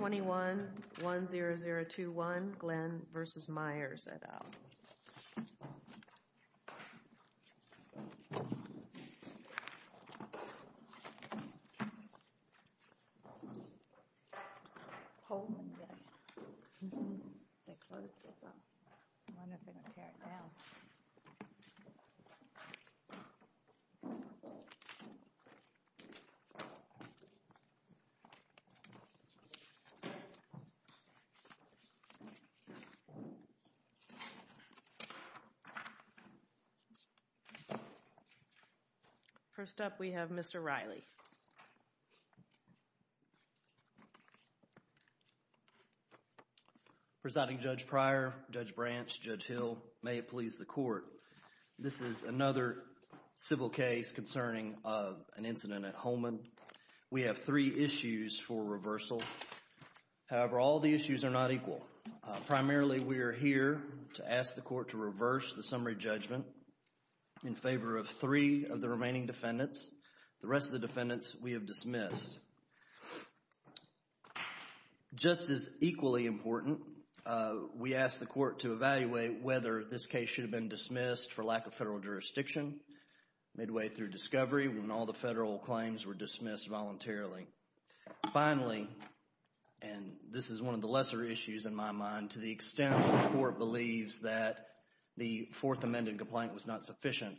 21-10021, Glenn v. Myers, et al. First up, we have Mr. Riley. Presiding Judge Pryor, Judge Branch, Judge Hill, may it please the Court. This is another civil case concerning an incident at Holman. We have three issues for reversal. However, all the issues are not equal. Primarily, we are here to ask the Court to reverse the summary judgment in favor of three of the remaining defendants. The rest of the defendants we have dismissed. Just as equally important, we ask the Court to evaluate whether this case should have been dismissed for lack of federal jurisdiction midway through discovery when all the federal claims were dismissed voluntarily. Finally, and this is one of the lesser issues in my mind, to the extent that the Court believes that the Fourth Amendment complaint was not sufficient,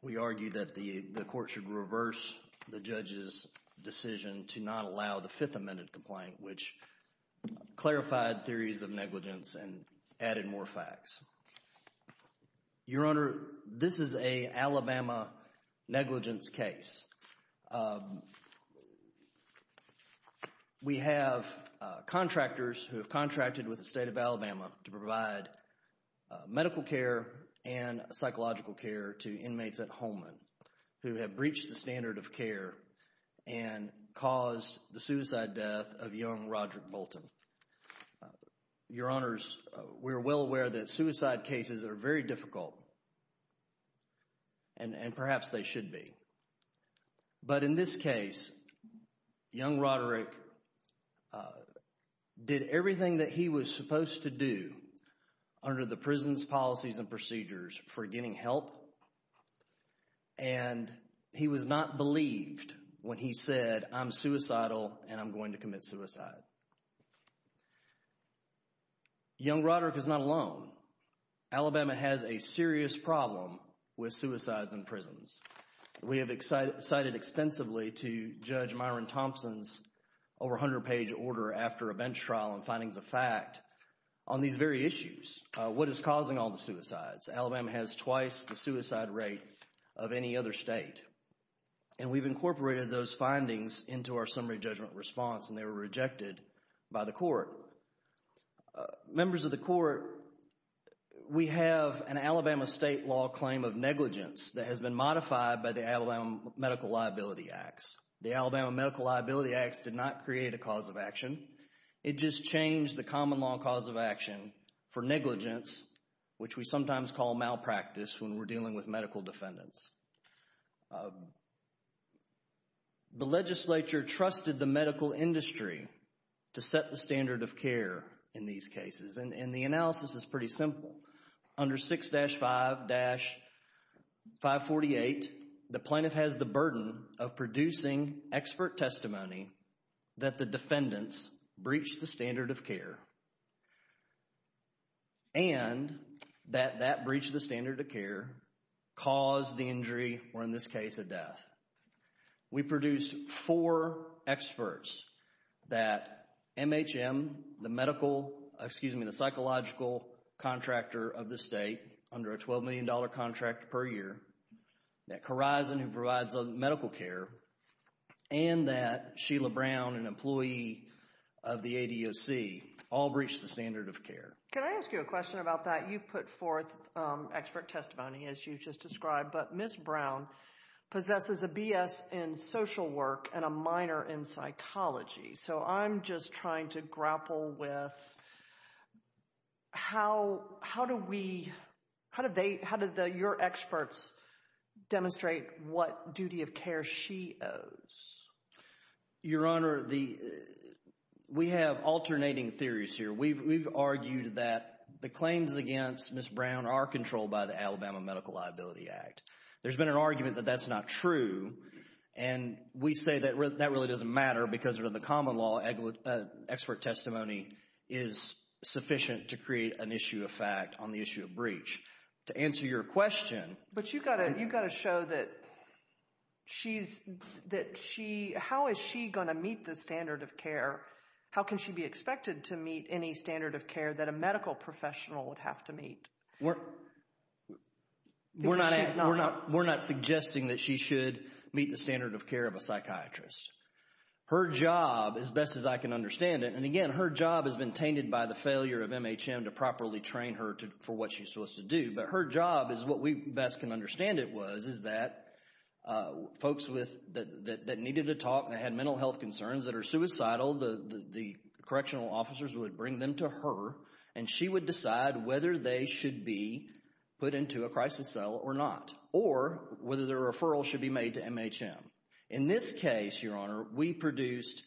we argue that the Court should reverse the judge's decision to not allow the Fifth Amendment complaint, which clarified theories of negligence and added more facts. Your Honor, this is an Alabama negligence case. We have contractors who have contracted with the State of Alabama to provide medical care and psychological care to inmates at Holman who have breached the standard of care and caused the suicide death of young Roderick Bolton. Your Honors, we are well aware that suicide cases are very difficult and perhaps they should be. But in this case, young Roderick did everything that he was supposed to do under the prison's policies and procedures for getting help and he was not believed when he said, I'm suicidal and I'm going to commit suicide. Young Roderick is not alone. Alabama has a serious problem with suicides in prisons. We have cited expensively to Judge Myron Thompson's over 100-page order after a bench trial and findings of fact on these very issues. What is causing all the suicides? Alabama has twice the suicide rate of any other state and we've incorporated those findings into our summary judgment response and they were rejected by the court. Members of the court, we have an Alabama state law claim of negligence that has been modified by the Alabama Medical Liability Acts. The Alabama Medical Liability Acts did not create a cause of action. It just changed the common law cause of action for negligence, which we sometimes call malpractice when we're dealing with medical defendants. The legislature trusted the medical industry to set the standard of care in these cases and the analysis is pretty simple. Under 6-5-548, the plaintiff has the burden of producing expert testimony that the defendants breached the standard of care and that that breach of the standard of care caused the injury or in this case, a death. We produced four experts that MHM, the psychological contractor of the state under a $12 million contract per year, that Corizon who provides the medical care, and that Sheila Brown, an employee of the ADOC, all breached the standard of care. Can I ask you a question about that? You've put forth expert testimony as you've just described, but Ms. Brown possesses a BS in social work and a minor in psychology, so I'm just trying to grapple with how do we... How did your experts demonstrate what duty of care she owes? Your Honor, we have alternating theories here. We've argued that the claims against Ms. Brown are controlled by the Alabama Medical Liability Act. There's been an argument that that's not true and we say that that really doesn't matter because under the common law, expert testimony is sufficient to create an issue of fact on the issue of breach. To answer your question... But you've got to show that she's... How is she going to meet the standard of care? How can she be expected to meet any standard of care that a medical professional would have to meet? We're not suggesting that she should meet the standard of care of a psychiatrist. Her job, as best as I can understand it, and again, her job has been tainted by the failure of MHM to properly train her for what she's supposed to do, but her job is what we best can understand it was, is that folks that needed to talk, that had mental health concerns that are suicidal, the correctional officers would bring them to her and she would decide whether they should be put into a crisis cell or not, or whether their referral should be made to MHM. In this case, your honor, we produced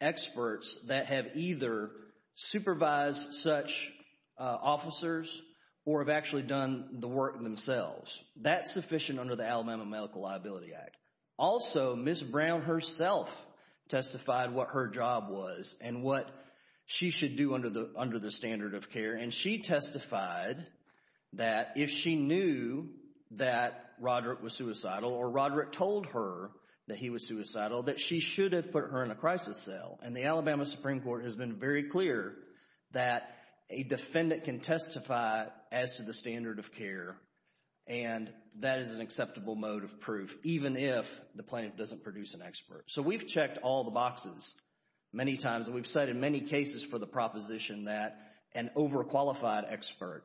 experts that have either supervised such officers or have actually done the work themselves. That's sufficient under the Alabama Medical Liability Act. Also, Ms. Brown herself testified what her job was and what she should do under the standard of care, and she testified that if she knew that Roderick was suicidal or Roderick told her that he was suicidal, that she should have put her in a crisis cell. And the Alabama Supreme Court has been very clear that a defendant can testify as to the standard of care, and that is an acceptable mode of proof, even if the plaintiff doesn't produce an expert. So, we've checked all the boxes many times, and we've cited many cases for the proposition that an overqualified expert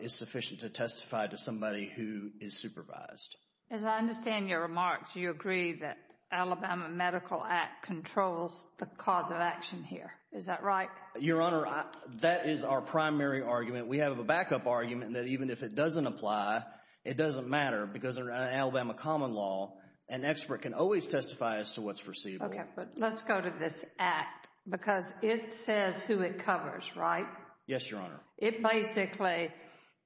is sufficient to testify to somebody who is supervised. As I understand your remarks, you agree that Alabama Medical Act controls the cause of action here. Is that right? Your honor, that is our primary argument. We have a backup argument that even if it doesn't apply, it doesn't matter because under Alabama common law, an expert can always testify as to what's foreseeable. Okay, but let's go to this act, because it says who it covers, right? Yes, your honor. It basically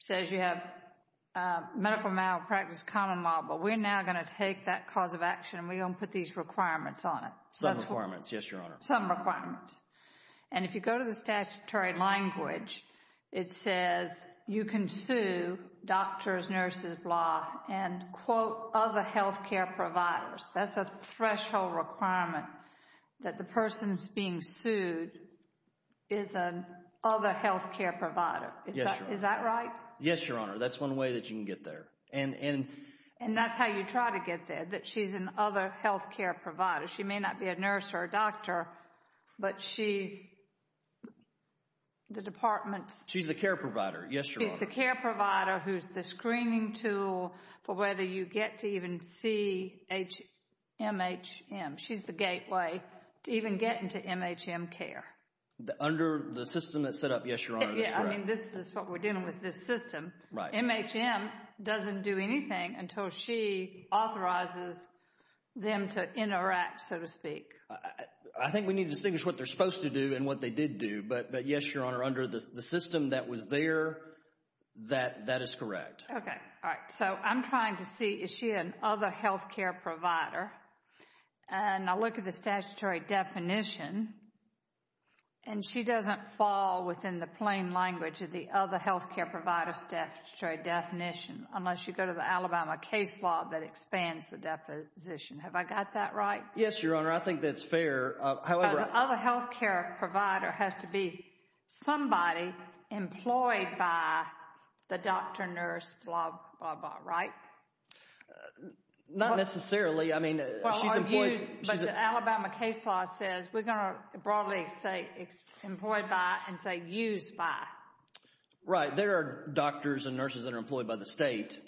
says you have medical malpractice common law, but we're now going to take that cause of action, and we're going to put these requirements on it. Some requirements, yes, your honor. Some requirements. And if you go to the statutory language, it says you can sue doctors, nurses, blah, and quote other health care providers. That's a threshold requirement that the person who's being sued is an other health care provider. Is that right? Yes, your honor. That's one way that you can get there. And that's how you try to get there, that she's an other health care provider. She may not be a nurse or a doctor, but she's the department's... She's the care provider. Yes, your honor. She's the care provider who's the screening tool for whether you get to even see MHM. She's the gateway to even getting to MHM care. Under the system that's set up, yes, your honor, that's correct. Yeah, I mean, this is what we're dealing with, this system. MHM doesn't do anything until she authorizes them to interact, so to speak. I think we need to distinguish what they're supposed to do and what they did do. But yes, your honor, under the system that was there, that is correct. Okay. All right. So I'm trying to see, is she an other health care provider? And I look at the statutory definition, and she doesn't fall within the plain language of the other health care provider statutory definition, unless you go to the Alabama case law that expands the deposition. Have I got that right? Yes, your honor. I think that's fair. The other health care provider has to be somebody employed by the doctor, nurse, blah, blah, blah. Right? Not necessarily. I mean, she's employed- Well, or used. But the Alabama case law says we're going to broadly say employed by and say used by. Right. There are doctors and nurses that are employed by the state,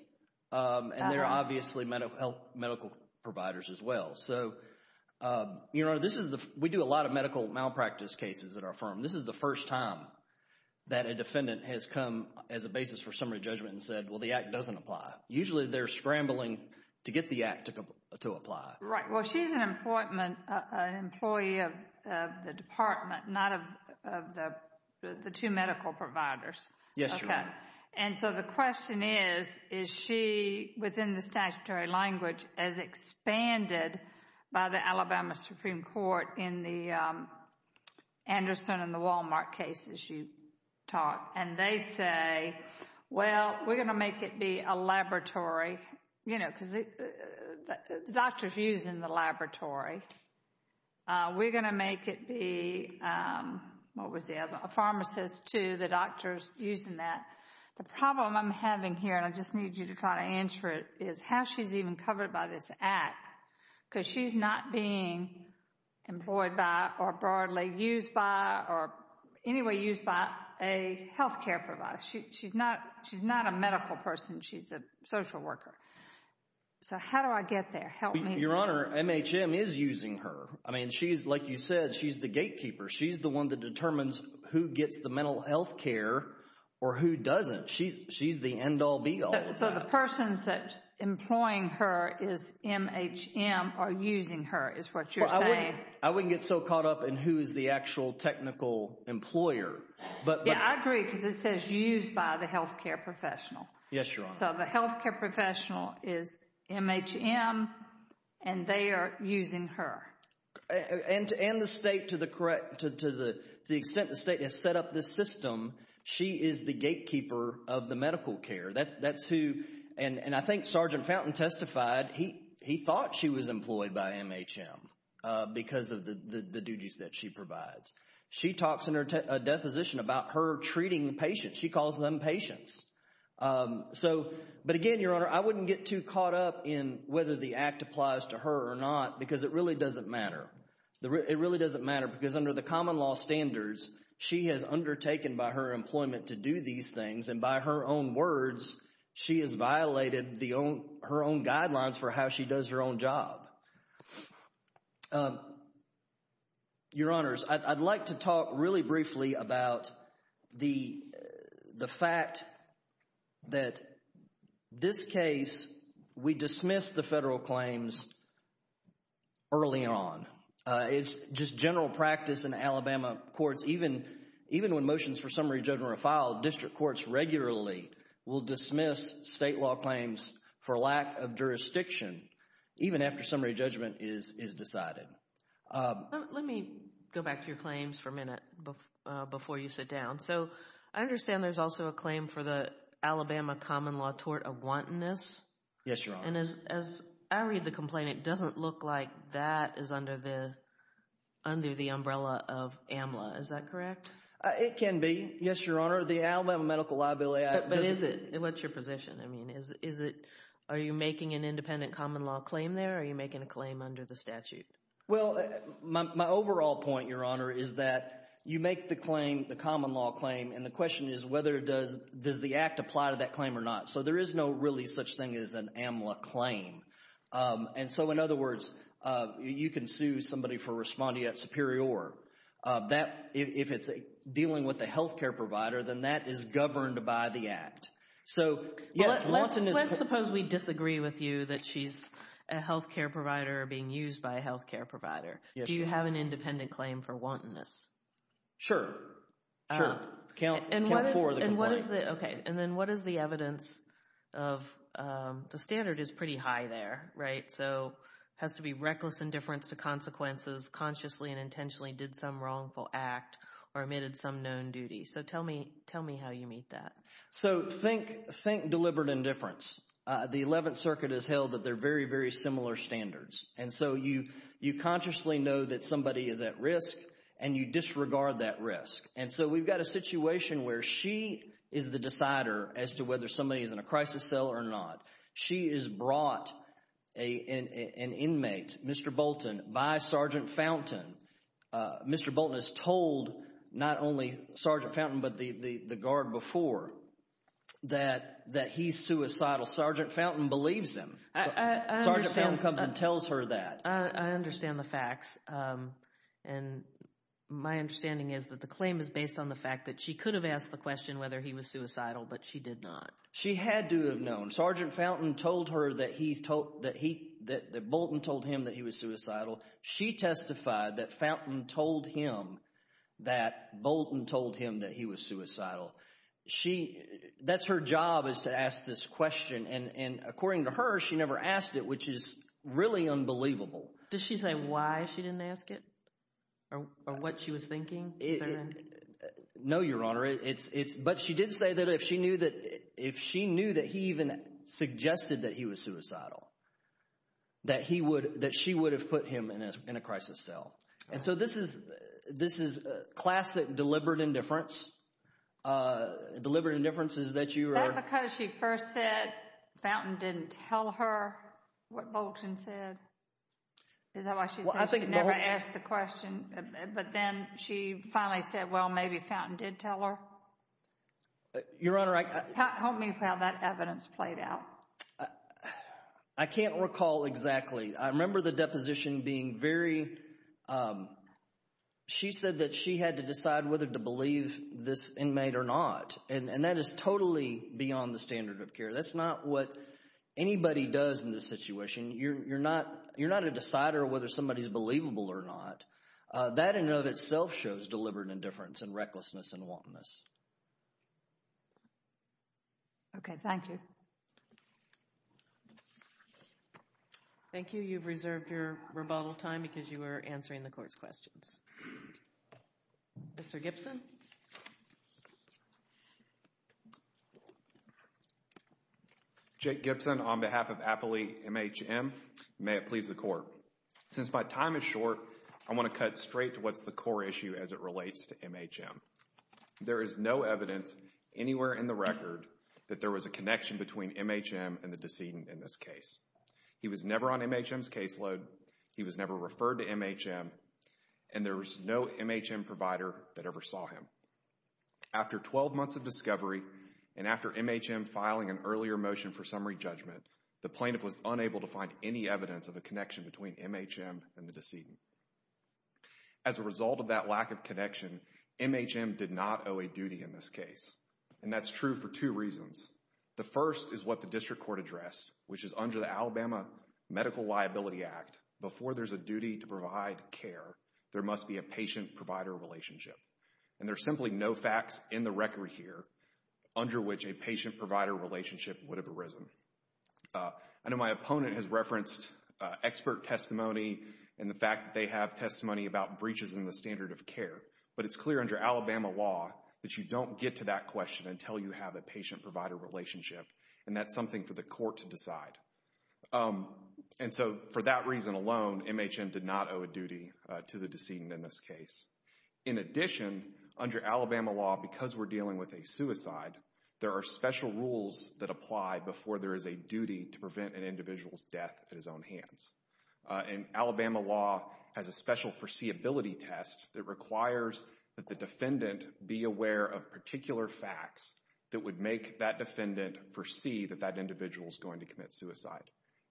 and there are obviously medical providers as well. So, your honor, we do a lot of medical malpractice cases at our firm. This is the first time that a defendant has come as a basis for summary judgment and said, well, the act doesn't apply. Usually they're scrambling to get the act to apply. Right. Well, she's an employee of the department, not of the two medical providers. Yes, your honor. Okay. And so, the question is, is she, within the statutory language, as expanded by the Alabama Supreme Court in the Anderson and the Wal-Mart cases you talked, and they say, well, we're going to make it be a laboratory, you know, because the doctor's using the laboratory. We're going to make it be, what was the other, a pharmacist too, the doctor's using that. The problem I'm having here, and I just need you to try to answer it, is how she's even covered by this act, because she's not being employed by, or broadly used by, or any way used by a healthcare provider. She's not a medical person. She's a social worker. So, how do I get there? Help me. Your honor, MHM is using her. I mean, she's, like you said, she's the gatekeeper. She's the one that determines who gets the mental health care, or who doesn't. She's the end-all, be-all. So, the person that's employing her is MHM, or using her, is what you're saying. I wouldn't get so caught up in who is the actual technical employer. Yeah, I agree, because it says used by the healthcare professional. Yes, your honor. So, the healthcare professional is MHM, and they are using her. And the state, to the extent the state has set up this system, she is the gatekeeper of the medical care. That's who, and I think Sergeant Fountain testified, he thought she was employed by MHM, because of the duties that she provides. She talks in her deposition about her treating patients. She calls them patients. So, but again, your honor, I wouldn't get too caught up in whether the act applies to her or not, because it really doesn't matter. It really doesn't matter, because under the common law standards, she has undertaken by her employment to do these things, and by her own words, she has violated her own guidelines for how she does her own job. Your honors, I'd like to talk really briefly about the fact that this case, we dismissed the federal claims early on. It's just general practice in Alabama courts. Even when motions for summary judgment are filed, district courts regularly will dismiss state law claims for lack of jurisdiction, even after summary judgment is decided. Let me go back to your claims for a minute, before you sit down. So, I understand there's also a claim for the Alabama common law tort of wantonness. Yes, your honor. And as I read the complaint, it doesn't look like that is under the umbrella of AMLA. Is that correct? It can be. Yes, your honor. The Alabama medical liability— But is it? What's your position? I mean, is it, are you making an independent common law claim there, or are you making a claim under the statute? Well, my overall point, your honor, is that you make the claim, the common law claim, and the question is whether does the act apply to that claim or not. So, there is no really such thing as an AMLA claim. And so, in other words, you can sue somebody for respondeat superior. If it's dealing with a health care provider, then that is governed by the act. So, yes, wantonness— But let's suppose we disagree with you that she's a health care provider or being used by a health care provider. Yes, your honor. Do you have an independent claim for wantonness? Sure. Sure. Count four of the complaints. And what is the, okay, and then what is the evidence of, the standard is pretty high there, right? So, has to be reckless indifference to consequences, consciously and intentionally did some wrongful act or omitted some known duty. So, tell me, tell me how you meet that. So, think deliberate indifference. The Eleventh Circuit has held that they're very, very similar standards. And so, you consciously know that somebody is at risk, and you disregard that risk. And so, we've got a situation where she is the decider as to whether somebody is in a crisis cell or not. She is brought an inmate, Mr. Bolton, by Sergeant Fountain. Mr. Bolton has told not only Sergeant Fountain but the guard before that he's suicidal. Sergeant Fountain believes him. I understand. I understand the facts. And my understanding is that the claim is based on the fact that she could have asked the question whether he was suicidal, but she did not. She had to have known. Sergeant Fountain told her that he, that Bolton told him that he was suicidal. She testified that Fountain told him that Bolton told him that he was suicidal. That's her job is to ask this question. And according to her, she never asked it, which is really unbelievable. Does she say why she didn't ask it or what she was thinking, sir? No, Your Honor. But she did say that if she knew that he even suggested that he was suicidal, that she would have put him in a crisis cell. And so, this is classic deliberate indifference. Deliberate indifference is that you are... Was it because she first said Fountain didn't tell her what Bolton said? Is that why she said she never asked the question? But then she finally said, well, maybe Fountain did tell her? Your Honor, I... Tell me how that evidence played out. I can't recall exactly. I remember the deposition being very... She said that she had to decide whether to believe this inmate or not. And that is totally beyond the standard of care. That's not what anybody does in this situation. You're not a decider of whether somebody's believable or not. That in and of itself shows deliberate indifference and recklessness and wantonness. Okay. Thank you. Thank you. You've reserved your rebuttal time because you were answering the court's questions. Mr. Gibson? Jake Gibson on behalf of Appley MHM. May it please the Court. Since my time is short, I want to cut straight to what's the core issue as it relates to MHM. There is no evidence anywhere in the record that there was a connection between MHM and the decedent in this case. He was never on MHM's caseload. He was never referred to MHM. And there was no MHM provider that ever saw him. After 12 months of discovery and after MHM filing an earlier motion for summary judgment, the plaintiff was unable to find any evidence of a connection between MHM and the decedent. As a result of that lack of connection, MHM did not owe a duty in this case. And that's true for two reasons. The first is what the district court addressed, which is under the Alabama Medical Liability Act, before there's a duty to provide care, there must be a patient-provider relationship. And there's simply no facts in the record here under which a patient-provider relationship would have arisen. I know my opponent has referenced expert testimony and the fact that they have testimony about breaches in the standard of care. But it's clear under Alabama law that you don't get to that question until you have a patient-provider relationship, and that's something for the court to decide. And so, for that reason alone, MHM did not owe a duty to the decedent in this case. In addition, under Alabama law, because we're dealing with a suicide, there are special rules that apply before there is a duty to prevent an individual's death at his own hands. And Alabama law has a special foreseeability test that requires that the defendant be aware of particular facts that would make that defendant foresee that that individual is going to commit suicide.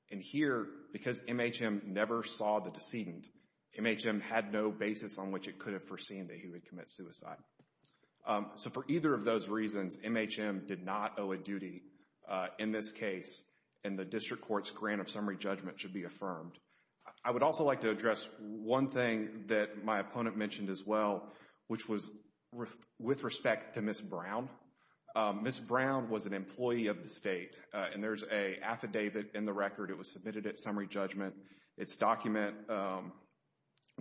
And here, because MHM never saw the decedent, MHM had no basis on which it could have foreseen that he would commit suicide. So for either of those reasons, MHM did not owe a duty in this case, and the district court's grant of summary judgment should be affirmed. I would also like to address one thing that my opponent mentioned as well, which was with respect to Ms. Brown. Ms. Brown was an employee of the state, and there's an affidavit in the record. It was submitted at summary judgment. It's document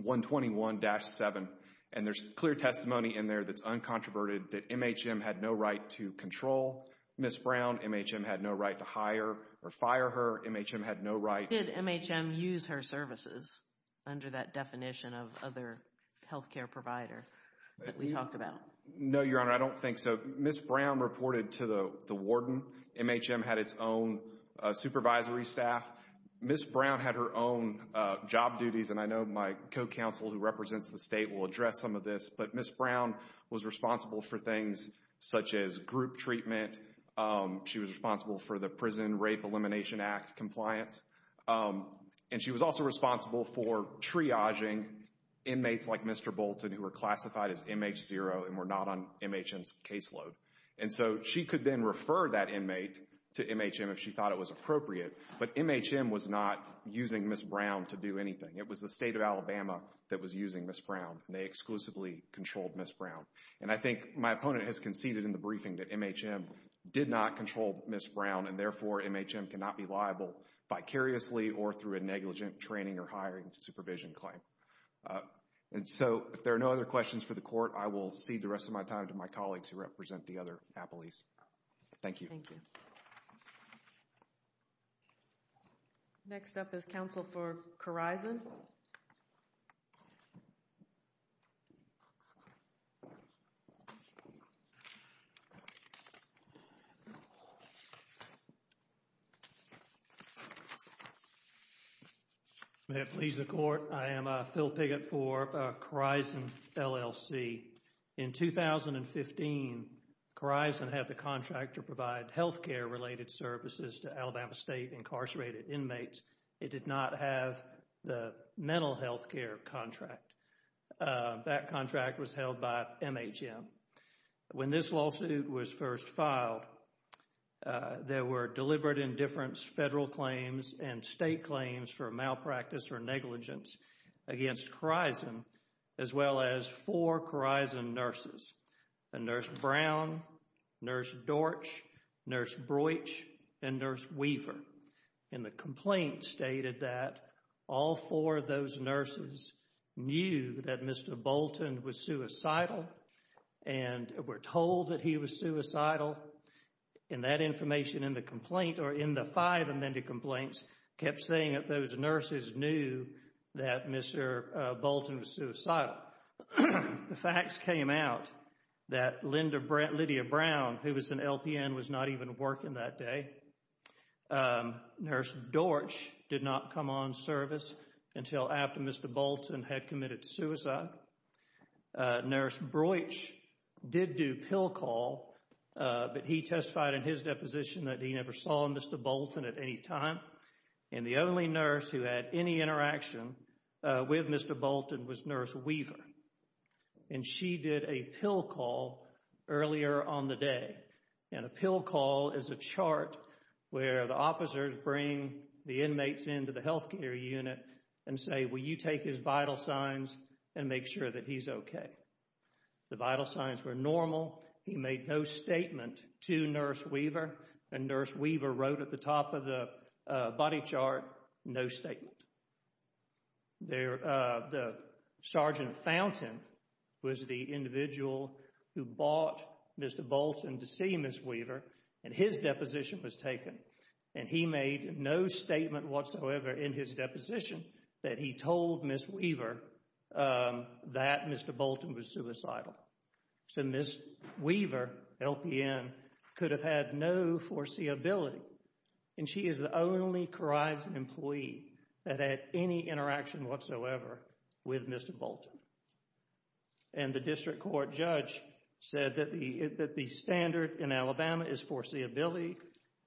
121-7, and there's clear testimony in there that's uncontroverted that MHM had no right to control Ms. Brown. MHM had no right to hire or fire her. MHM had no right. Did MHM use her services under that definition of other health care provider that we talked about? No, Your Honor. I don't think so. Ms. Brown reported to the warden. MHM had its own supervisory staff. Ms. Brown had her own job duties, and I know my co-counsel who represents the state will address some of this, but Ms. Brown was responsible for things such as group treatment. She was responsible for the Prison Rape Elimination Act compliance, and she was also responsible for triaging inmates like Mr. Bolton who were classified as MH0 and were not on MHM's caseload. And so she could then refer that inmate to MHM if she thought it was appropriate, but MHM was not using Ms. Brown to do anything. It was the state of Alabama that was using Ms. Brown, and they exclusively controlled Ms. Brown. And I think my opponent has conceded in the briefing that MHM did not control Ms. Brown, and therefore MHM cannot be liable vicariously or through a negligent training or hiring supervision claim. And so if there are no other questions for the Court, I will cede the rest of my time to my colleagues who represent the other appellees. Thank you. Thank you. Thank you. Next up is counsel for Khorizan. May it please the Court, I am Phil Piggott for Khorizan, LLC. In 2015, Khorizan had the contract to provide health care related services to Alabama State incarcerated inmates. It did not have the mental health care contract. That contract was held by MHM. When this lawsuit was first filed, there were deliberate indifference federal claims and Khorizan, as well as four Khorizan nurses, Nurse Brown, Nurse Dorch, Nurse Broich, and Nurse Weaver. And the complaint stated that all four of those nurses knew that Mr. Bolton was suicidal and were told that he was suicidal. And that information in the complaint, or in the five amended complaints, kept saying that those nurses knew that Mr. Bolton was suicidal. The facts came out that Lydia Brown, who was an LPN, was not even working that day. Nurse Dorch did not come on service until after Mr. Bolton had committed suicide. Nurse Broich did do pill call, but he testified in his deposition that he never saw Mr. Bolton at any time. And the only nurse who had any interaction with Mr. Bolton was Nurse Weaver. And she did a pill call earlier on the day. And a pill call is a chart where the officers bring the inmates into the health care unit and say, will you take his vital signs and make sure that he's okay. The vital signs were normal. He made no statement to Nurse Weaver. And Nurse Weaver wrote at the top of the body chart, no statement. The Sergeant Fountain was the individual who brought Mr. Bolton to see Ms. Weaver and his deposition was taken. And he made no statement whatsoever in his deposition that he told Ms. Weaver that Mr. Bolton was suicidal. So Ms. Weaver, LPN, could have had no foreseeability. And she is the only Corizon employee that had any interaction whatsoever with Mr. Bolton. And the district court judge said that the standard in Alabama is foreseeability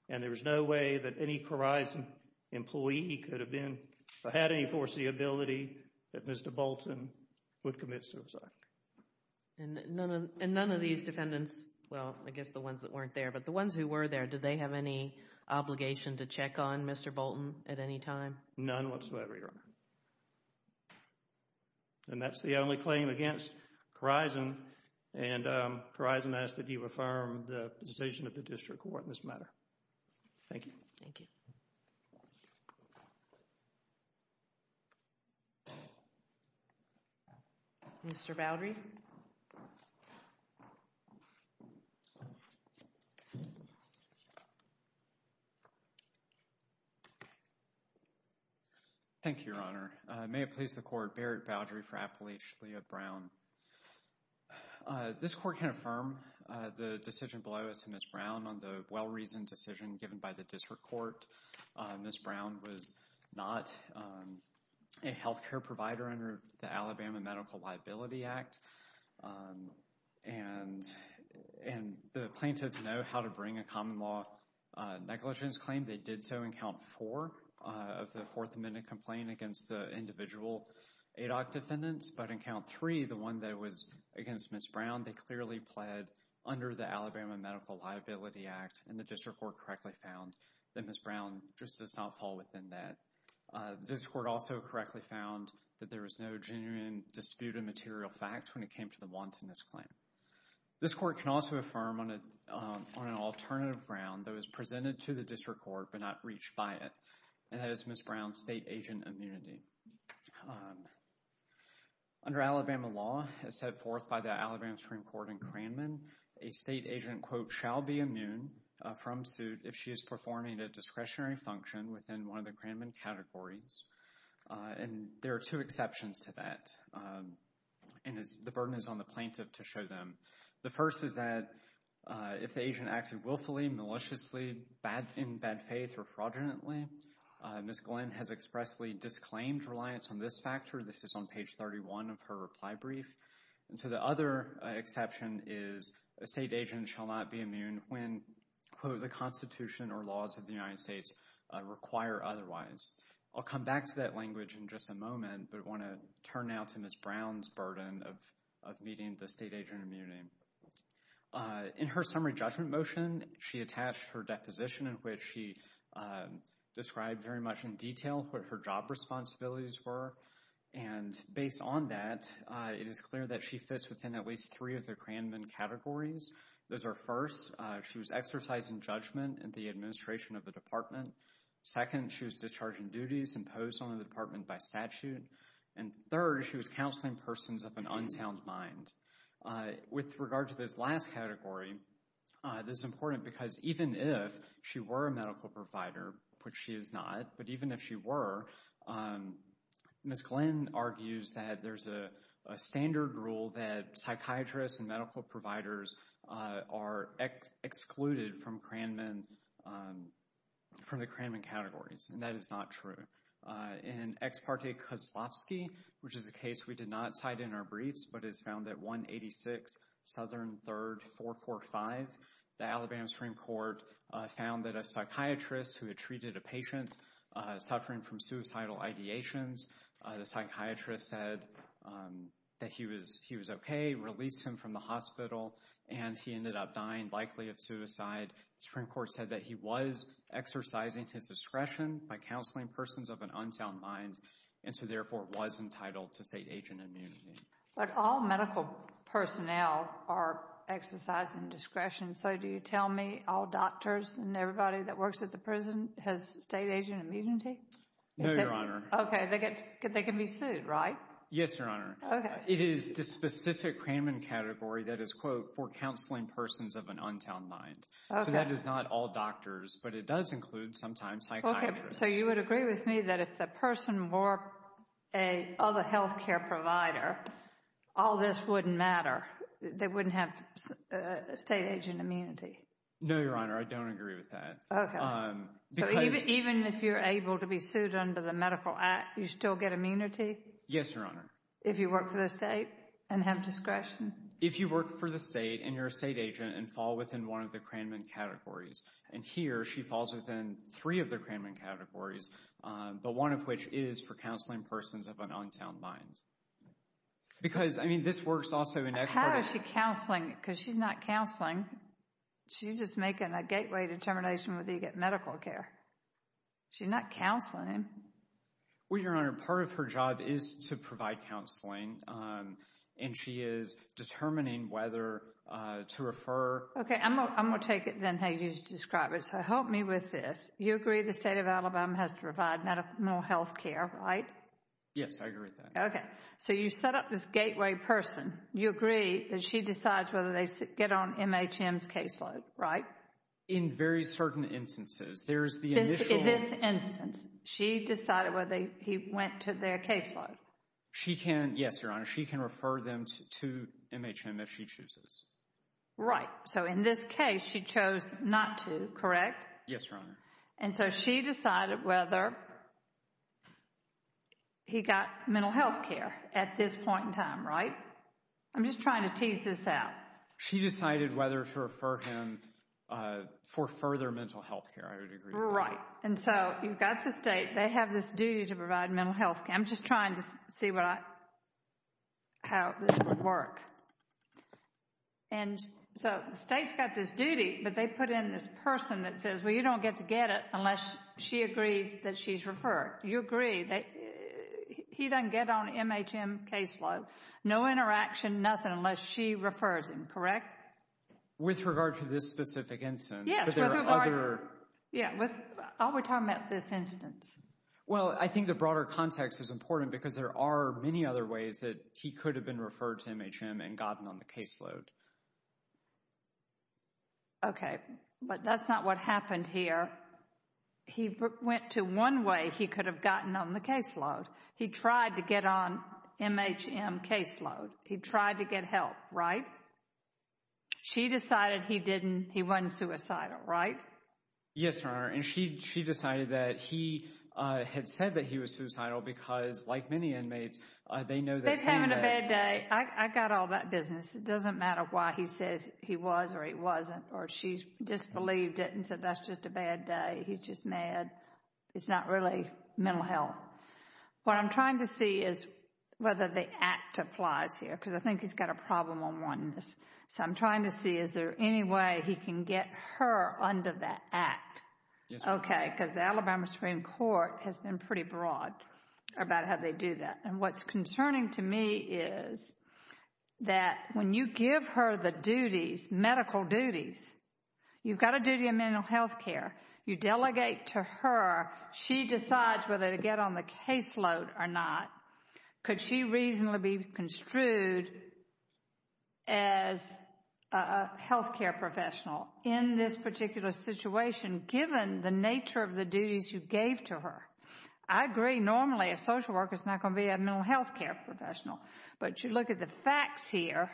and there was no way that any Corizon employee could have been, or had any foreseeability that Mr. Bolton would commit suicide. And none of these defendants, well, I guess the ones that weren't there, but the ones who were there, did they have any obligation to check on Mr. Bolton at any time? None whatsoever, Your Honor. And that's the only claim against Corizon. And Corizon asked that you affirm the position of the district court in this matter. Thank you. Thank you. Mr. Boudry. Thank you, Your Honor. May it please the court, Barrett Boudry for Appalachia Brown. This court can affirm the decision below as to Ms. Brown on the well-reasoned decision given by the district court. Ms. Brown was not a health care provider under the Alabama Medical Liability Act. And the plaintiffs know how to bring a common law negligence claim. They did so in count four of the Fourth Amendment complaint against the individual ADOC defendants. But in count three, the one that was against Ms. Brown, they clearly pled under the Alabama Medical Liability Act, and the district court correctly found that Ms. Brown just does not fall within that. The district court also correctly found that there was no genuine dispute of material facts when it came to the wantonness claim. This court can also affirm on an alternative ground that was presented to the district court but not reached by it, and that is Ms. Brown's state agent immunity. Under Alabama law, as set forth by the Alabama Supreme Court in Cranman, a state agent quote, shall be immune from suit if she is performing a discretionary function within one of the Cranman categories. And there are two exceptions to that, and the burden is on the plaintiff to show them. The first is that if the agent acted willfully, maliciously, in bad faith, or fraudulently, Ms. Glenn has expressly disclaimed reliance on this factor. This is on page 31 of her reply brief. And so the other exception is a state agent shall not be immune when quote, the Constitution or laws of the United States require otherwise. I'll come back to that language in just a moment, but I want to turn now to Ms. Brown's burden of meeting the state agent immunity. In her summary judgment motion, she attached her deposition in which she described very much in detail what her job responsibilities were. And based on that, it is clear that she fits within at least three of the Cranman categories. Those are first, she was exercising judgment in the administration of the department. Second, she was discharging duties imposed on the department by statute. And third, she was counseling persons of an unsound mind. With regard to this last category, this is important because even if she were a medical provider, which she is not, but even if she were, Ms. Glenn argues that there's a standard rule that psychiatrists and medical providers are excluded from Cranman, from the Cranman categories. And that is not true. In Ex parte Kozlowski, which is a case we did not cite in our briefs, but it's found at 186 Southern 3rd 445, the Alabama Supreme Court found that a psychiatrist who had treated a patient suffering from suicidal ideations, the psychiatrist said that he was okay, released him from the hospital, and he ended up dying likely of suicide. The Supreme Court said that he was exercising his discretion by counseling persons of an unsound mind, and so therefore was entitled to state agent immunity. But all medical personnel are exercising discretion, so do you tell me all doctors and everybody that works at the prison has state agent immunity? No, Your Honor. Okay. They can be sued, right? Yes, Your Honor. Okay. It is the specific Cranman category that is, quote, for counseling persons of an unsound mind. Okay. So that is not all doctors, but it does include sometimes psychiatrists. Okay. So you would agree with me that if the person were a other health care provider, all this wouldn't matter. They wouldn't have state agent immunity. No, Your Honor. I don't agree with that. Okay. So even if you're able to be sued under the medical act, you still get immunity? Yes, Your Honor. If you work for the state and have discretion? If you work for the state and you're a state agent and fall within one of the Cranman categories, and here she falls within three of the Cranman categories, but one of which is for counseling persons of an unsound mind. Because I mean, this works also in expertise. How is she counseling? Because she's not counseling. She's just making a gateway determination whether you get medical care. She's not counseling. Well, Your Honor, part of her job is to provide counseling and she is determining whether to refer. Okay. I'm going to take it then how you describe it. So help me with this. You agree the state of Alabama has to provide medical, mental health care, right? Yes, I agree with that. Okay. So you set up this gateway person. You agree that she decides whether they get on MHM's caseload, right? In very certain instances. There's the initial. In this instance, she decided whether he went to their caseload. She can, yes, Your Honor. She can refer them to MHM if she chooses. Right. So in this case, she chose not to, correct? Yes, Your Honor. And so she decided whether he got mental health care at this point in time, right? I'm just trying to tease this out. She decided whether to refer him for further mental health care, I would agree with that. Right. And so you've got the state. They have this duty to provide mental health care. I'm just trying to see what I, how this would work. And so the state's got this duty, but they put in this person that says, well, you don't get to get it unless she agrees that she's referred. You agree that he doesn't get on MHM caseload. No interaction, nothing unless she refers him, correct? With regard to this specific instance. Yes, with regard. But there are other. Yeah. All we're talking about this instance. Well, I think the broader context is important because there are many other ways that he could have been referred to MHM and gotten on the caseload. Okay, but that's not what happened here. He went to one way he could have gotten on the caseload. He tried to get on MHM caseload. He tried to get help, right? She decided he didn't, he wasn't suicidal, right? Yes, Your Honor. And she, she decided that he had said that he was suicidal because like many inmates, they know that's him. He's having a bad day. I got all that business. It doesn't matter why he says he was or he wasn't or she disbelieved it and said that's just a bad day. He's just mad. It's not really mental health. What I'm trying to see is whether the act applies here because I think he's got a problem on oneness. So I'm trying to see is there any way he can get her under that act? Yes, Your Honor. Okay, because the Alabama Supreme Court has been pretty broad about how they do that and what's concerning to me is that when you give her the duties, medical duties, you've got a duty of mental health care. You delegate to her. She decides whether to get on the caseload or not. Could she reasonably be construed as a health care professional in this particular situation given the nature of the duties you gave to her? I agree normally a social worker is not going to be a mental health care professional, but you look at the facts here.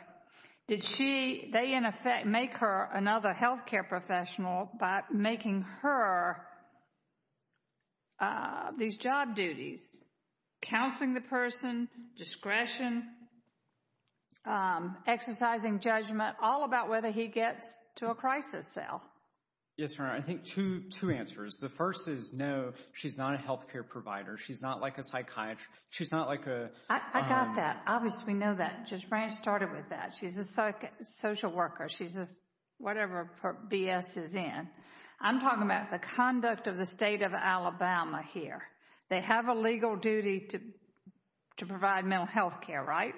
Did she, they in effect make her another health care professional by making her these job duties, counseling the person, discretion, exercising judgment, all about whether he gets to a crisis cell. Yes, Your Honor. I think two answers. The first is no, she's not a health care provider. She's not like a psychiatrist. She's not like a... I got that. Obviously we know that. Just Branch started with that. She's a social worker. She's a whatever BS is in. I'm talking about the conduct of the state of Alabama here. They have a legal duty to provide mental health care, right?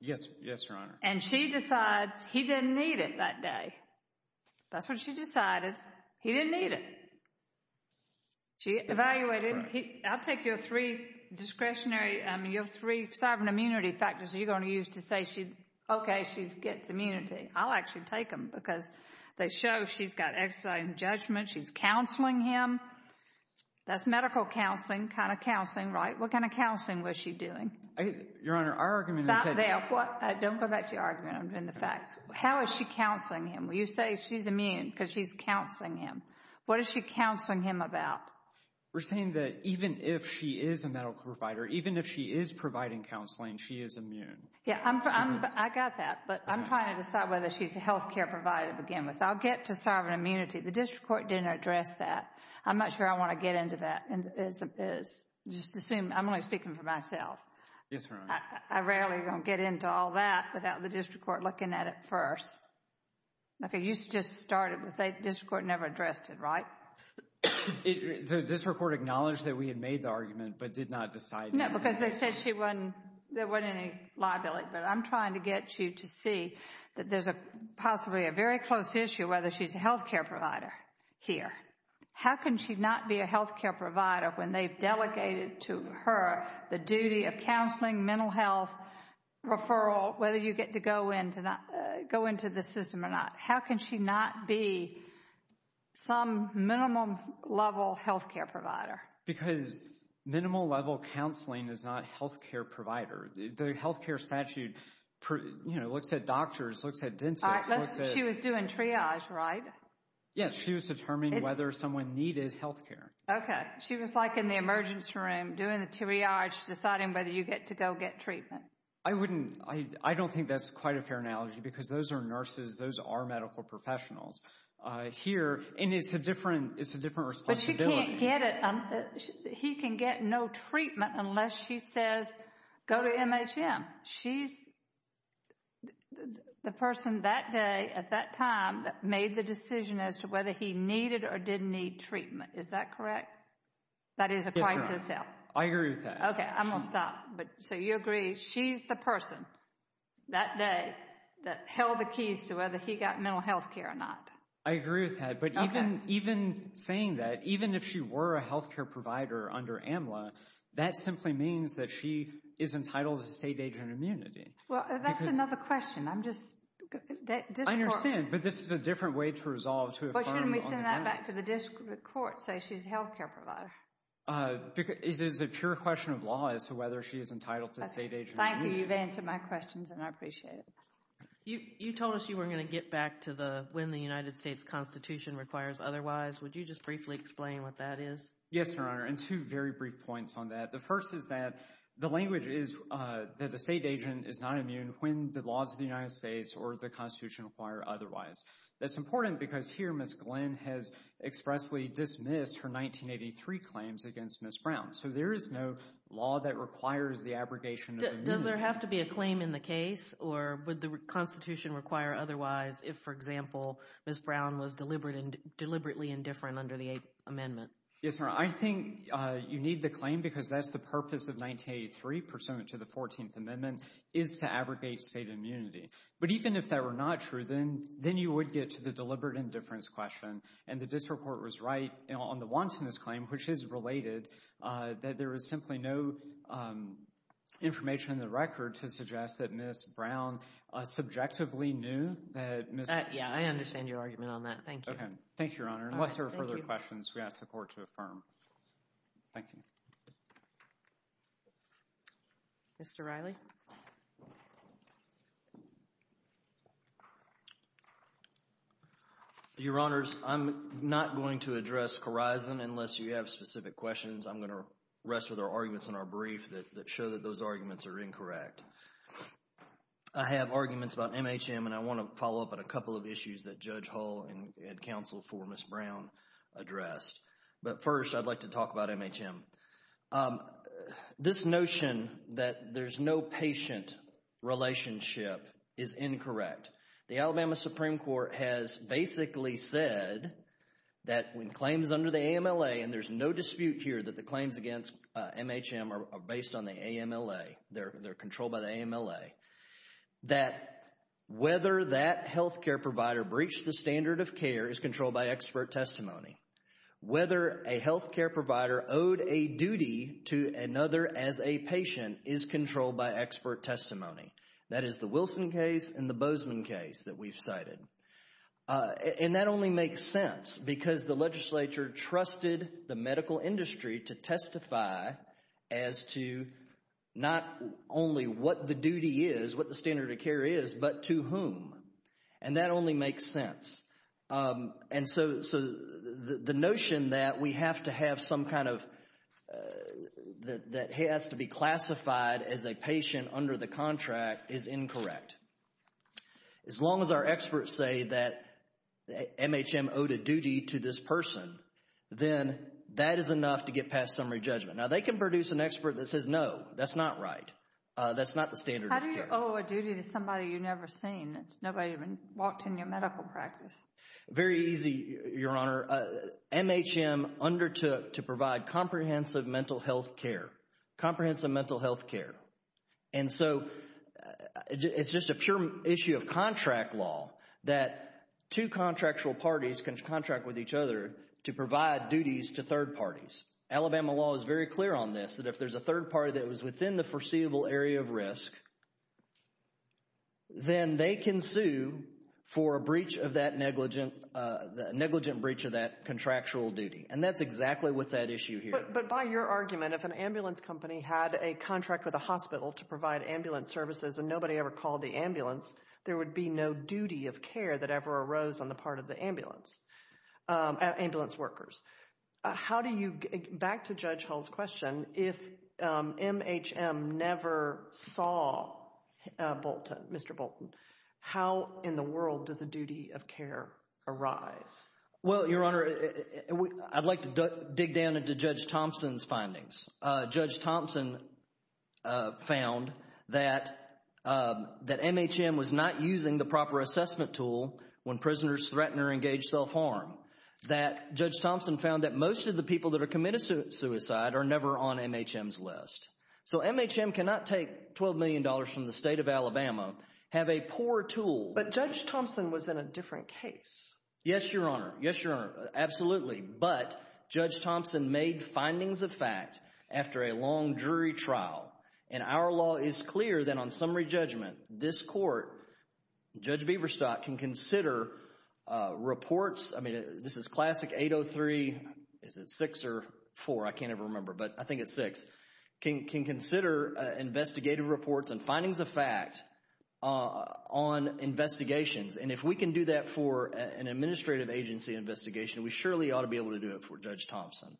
Yes, Your Honor. And she decides he didn't need it that day. That's what she decided. He didn't need it. She evaluated him. I'll take your three discretionary, your three sovereign immunity factors you're going to use to say she, okay, she gets immunity. I'll actually take them because they show she's got exercising judgment. She's counseling him. That's medical counseling, kind of counseling, right? What kind of counseling was she doing? Your Honor, our argument is... Stop there. What? Don't go back to your argument. I'm doing the facts. How is she counseling him? You say she's immune because she's counseling him. What is she counseling him about? We're saying that even if she is a medical provider, even if she is providing counseling, she is immune. Yeah, I got that, but I'm trying to decide whether she's a health care provider to begin with. I'll get to sovereign immunity. The district court didn't address that. I'm not sure I want to get into that. Just assume, I'm only speaking for myself. Yes, Your Honor. I rarely am going to get into all that without the district court looking at it first. Okay, you just started, but the district court never addressed it, right? District court acknowledged that we had made the argument, but did not decide that. No, because they said there wasn't any liability, but I'm trying to get you to see that there's possibly a very close issue whether she's a health care provider here. How can she not be a health care provider when they've delegated to her the duty of minimal health referral, whether you get to go into the system or not? How can she not be some minimum level health care provider? Because minimal level counseling is not health care provider. The health care statute, you know, looks at doctors, looks at dentists, looks at- She was doing triage, right? Yes, she was determining whether someone needed health care. Okay, she was like in the emergency room doing the triage, deciding whether you get to go get treatment. I wouldn't, I don't think that's quite a fair analogy because those are nurses, those are medical professionals here, and it's a different, it's a different responsibility. But she can't get it, he can get no treatment unless she says go to MHM. She's the person that day at that time that made the decision as to whether he needed or didn't need treatment, is that correct? That is a crisis. Yes, ma'am. I agree with that. Okay, I'm going to stop. So you agree she's the person that day that held the keys to whether he got mental health care or not? I agree with that. But even saying that, even if she were a health care provider under AMLA, that simply means that she is entitled to state agent immunity. Well, that's another question, I'm just, this court- I understand, but this is a different way to resolve to a firm on the ground. But shouldn't we send that back to the district court and say she's a health care provider? It is a pure question of law as to whether she is entitled to state agent immunity. Thank you, you've answered my questions and I appreciate it. You told us you were going to get back to the when the United States Constitution requires otherwise. Would you just briefly explain what that is? Yes, Your Honor, and two very brief points on that. The first is that the language is that the state agent is not immune when the laws of the United States or the Constitution require otherwise. That's important because here Ms. Glenn has expressly dismissed her 1983 claims against Ms. Brown. So there is no law that requires the abrogation of immunity. Does there have to be a claim in the case or would the Constitution require otherwise if, for example, Ms. Brown was deliberately indifferent under the 8th Amendment? Yes, Your Honor. I think you need the claim because that's the purpose of 1983 pursuant to the 14th Amendment is to abrogate state immunity. But even if that were not true, then you would get to the deliberate indifference question and the district court was right on the wantonness claim, which is related, that there is simply no information in the record to suggest that Ms. Brown subjectively knew that Ms. Yeah, I understand your argument on that. Thank you. Thank you, Your Honor. Unless there are further questions, we ask the court to affirm. Thank you. Mr. Riley? Your Honors, I'm not going to address Corison unless you have specific questions. I'm going to rest with our arguments in our brief that show that those arguments are incorrect. I have arguments about MHM, and I want to follow up on a couple of issues that Judge Hull and counsel for Ms. Brown addressed. But first, I'd like to talk about MHM. This notion that there's no patient relationship is incorrect. The Alabama Supreme Court has basically said that when claims under the AMLA, and there's no dispute here that the claims against MHM are based on the AMLA, they're controlled by the AMLA, that whether that healthcare provider breached the standard of care is whether a healthcare provider owed a duty to another as a patient is controlled by expert testimony. That is the Wilson case and the Bozeman case that we've cited. And that only makes sense because the legislature trusted the medical industry to testify as to not only what the duty is, what the standard of care is, but to whom. And that only makes sense. And so, the notion that we have to have some kind of, that has to be classified as a patient under the contract is incorrect. As long as our experts say that MHM owed a duty to this person, then that is enough to get past summary judgment. Now, they can produce an expert that says, no, that's not right. That's not the standard of care. How do you owe a duty to somebody you've never seen? Nobody even walked in your medical practice. Very easy, Your Honor. MHM undertook to provide comprehensive mental health care. Comprehensive mental health care. And so, it's just a pure issue of contract law that two contractual parties can contract with each other to provide duties to third parties. Alabama law is very clear on this, that if there's a third party that was within the can sue for a breach of that negligent, negligent breach of that contractual duty. And that's exactly what's at issue here. But by your argument, if an ambulance company had a contract with a hospital to provide ambulance services and nobody ever called the ambulance, there would be no duty of care that ever arose on the part of the ambulance, ambulance workers. How do you, back to Judge Hull's question, if MHM never saw Mr. Bolton, how in the world does a duty of care arise? Well, Your Honor, I'd like to dig down into Judge Thompson's findings. Judge Thompson found that MHM was not using the proper assessment tool when prisoners threaten or engage self-harm. That Judge Thompson found that most of the people that are committed suicide are never on MHM's list. So MHM cannot take $12 million from the state of Alabama, have a poor tool. But Judge Thompson was in a different case. Yes, Your Honor. Yes, Your Honor. Absolutely. But, Judge Thompson made findings of fact after a long jury trial. And our law is clear that on summary judgment, this court, Judge Bieberstadt, can consider reports, I mean, this is classic 803, is it 6 or 4, I can't ever remember, but I think it's 6, can consider investigative reports and findings of fact on investigations. And if we can do that for an administrative agency investigation, we surely ought to be able to do it for Judge Thompson.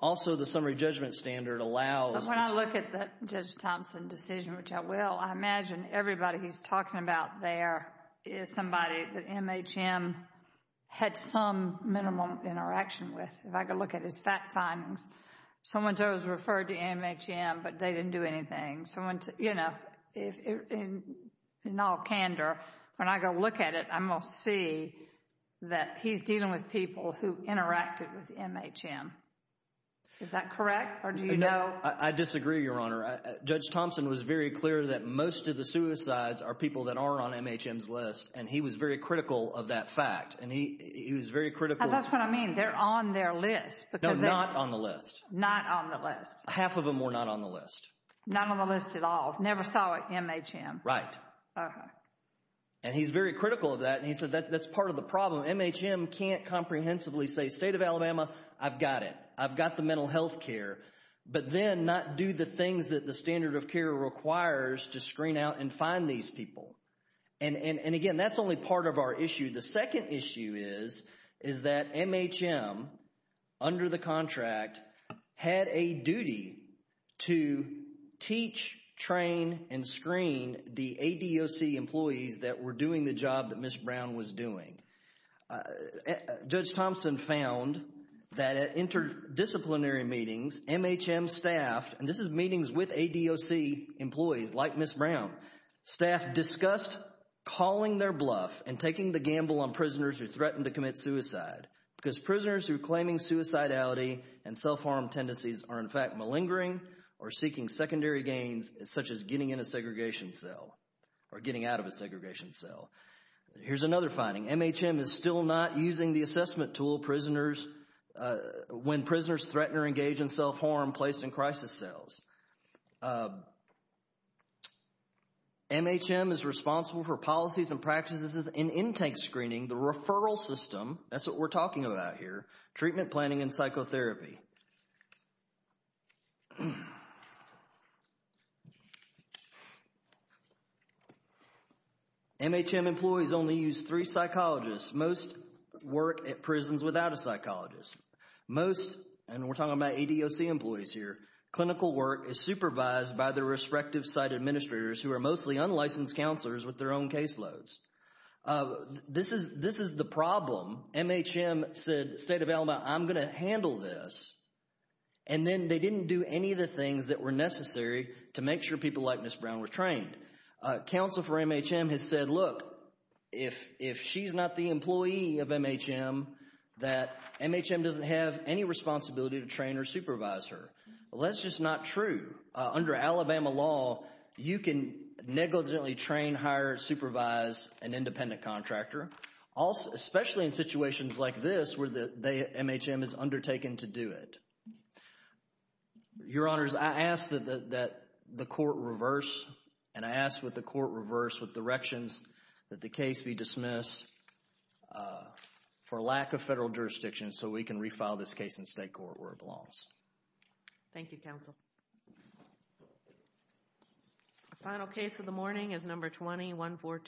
Also, the summary judgment standard allows... But when I look at that Judge Thompson decision, which I will, I imagine everybody he's talking about there is somebody that MHM had some minimum interaction with. If I could look at his fact findings, someone's always referred to MHM, but they didn't do anything. Someone's, you know, in all candor, when I go look at it, I'm going to see that he's dealing with people who interacted with MHM. Is that correct, or do you know? I disagree, Your Honor. Judge Thompson was very clear that most of the suicides are people that aren't on MHM's list, and he was very critical of that fact. And he was very critical... That's what I mean, they're on their list. No, not on the list. Not on the list. Half of them were not on the list. Not on the list at all, never saw it, MHM. Right. And he's very critical of that, and he said that's part of the problem. MHM can't comprehensively say, State of Alabama, I've got it. I've got the mental health care, but then not do the things that the standard of care requires to screen out and find these people. And again, that's only part of our issue. The second issue is, is that MHM, under the contract, had a duty to teach, train, and screen the ADOC employees that were doing the job that Ms. Brown was doing. Judge Thompson found that at interdisciplinary meetings, MHM staff, and this is meetings with ADOC employees like Ms. Brown, staff discussed calling their bluff and taking the gamble on prisoners who threatened to commit suicide, because prisoners who are claiming suicidality and self-harm tendencies are, in fact, malingering or seeking secondary gains such as getting in a segregation cell or getting out of a segregation cell. Here's another finding. MHM is still not using the assessment tool prisoners, when prisoners threaten or engage in self-harm placed in crisis cells. MHM is responsible for policies and practices in intake screening, the referral system, that's what we're talking about here, treatment planning and psychotherapy. MHM employees only use three psychologists. Most work at prisons without a psychologist. Most, and we're talking about ADOC employees here, clinical work is supervised by the respective site administrators who are mostly unlicensed counselors with their own caseloads. This is the problem. MHM said, State of Alabama, I'm going to handle this, and then they didn't do any of the things that were necessary to make sure people like Ms. Brown were trained. Counsel for MHM has said, look, if she's not the employee of MHM, that MHM doesn't have any responsibility to train or supervise her. That's just not true. Under Alabama law, you can negligently train, hire, supervise an independent contractor, especially in situations like this where MHM is undertaken to do it. Your Honors, I ask that the court reverse, and I ask that the court reverse with directions that the case be dismissed for lack of federal jurisdiction so we can refile this case in state court where it belongs. Thank you, Counsel. The final case of the morning is number 20-142.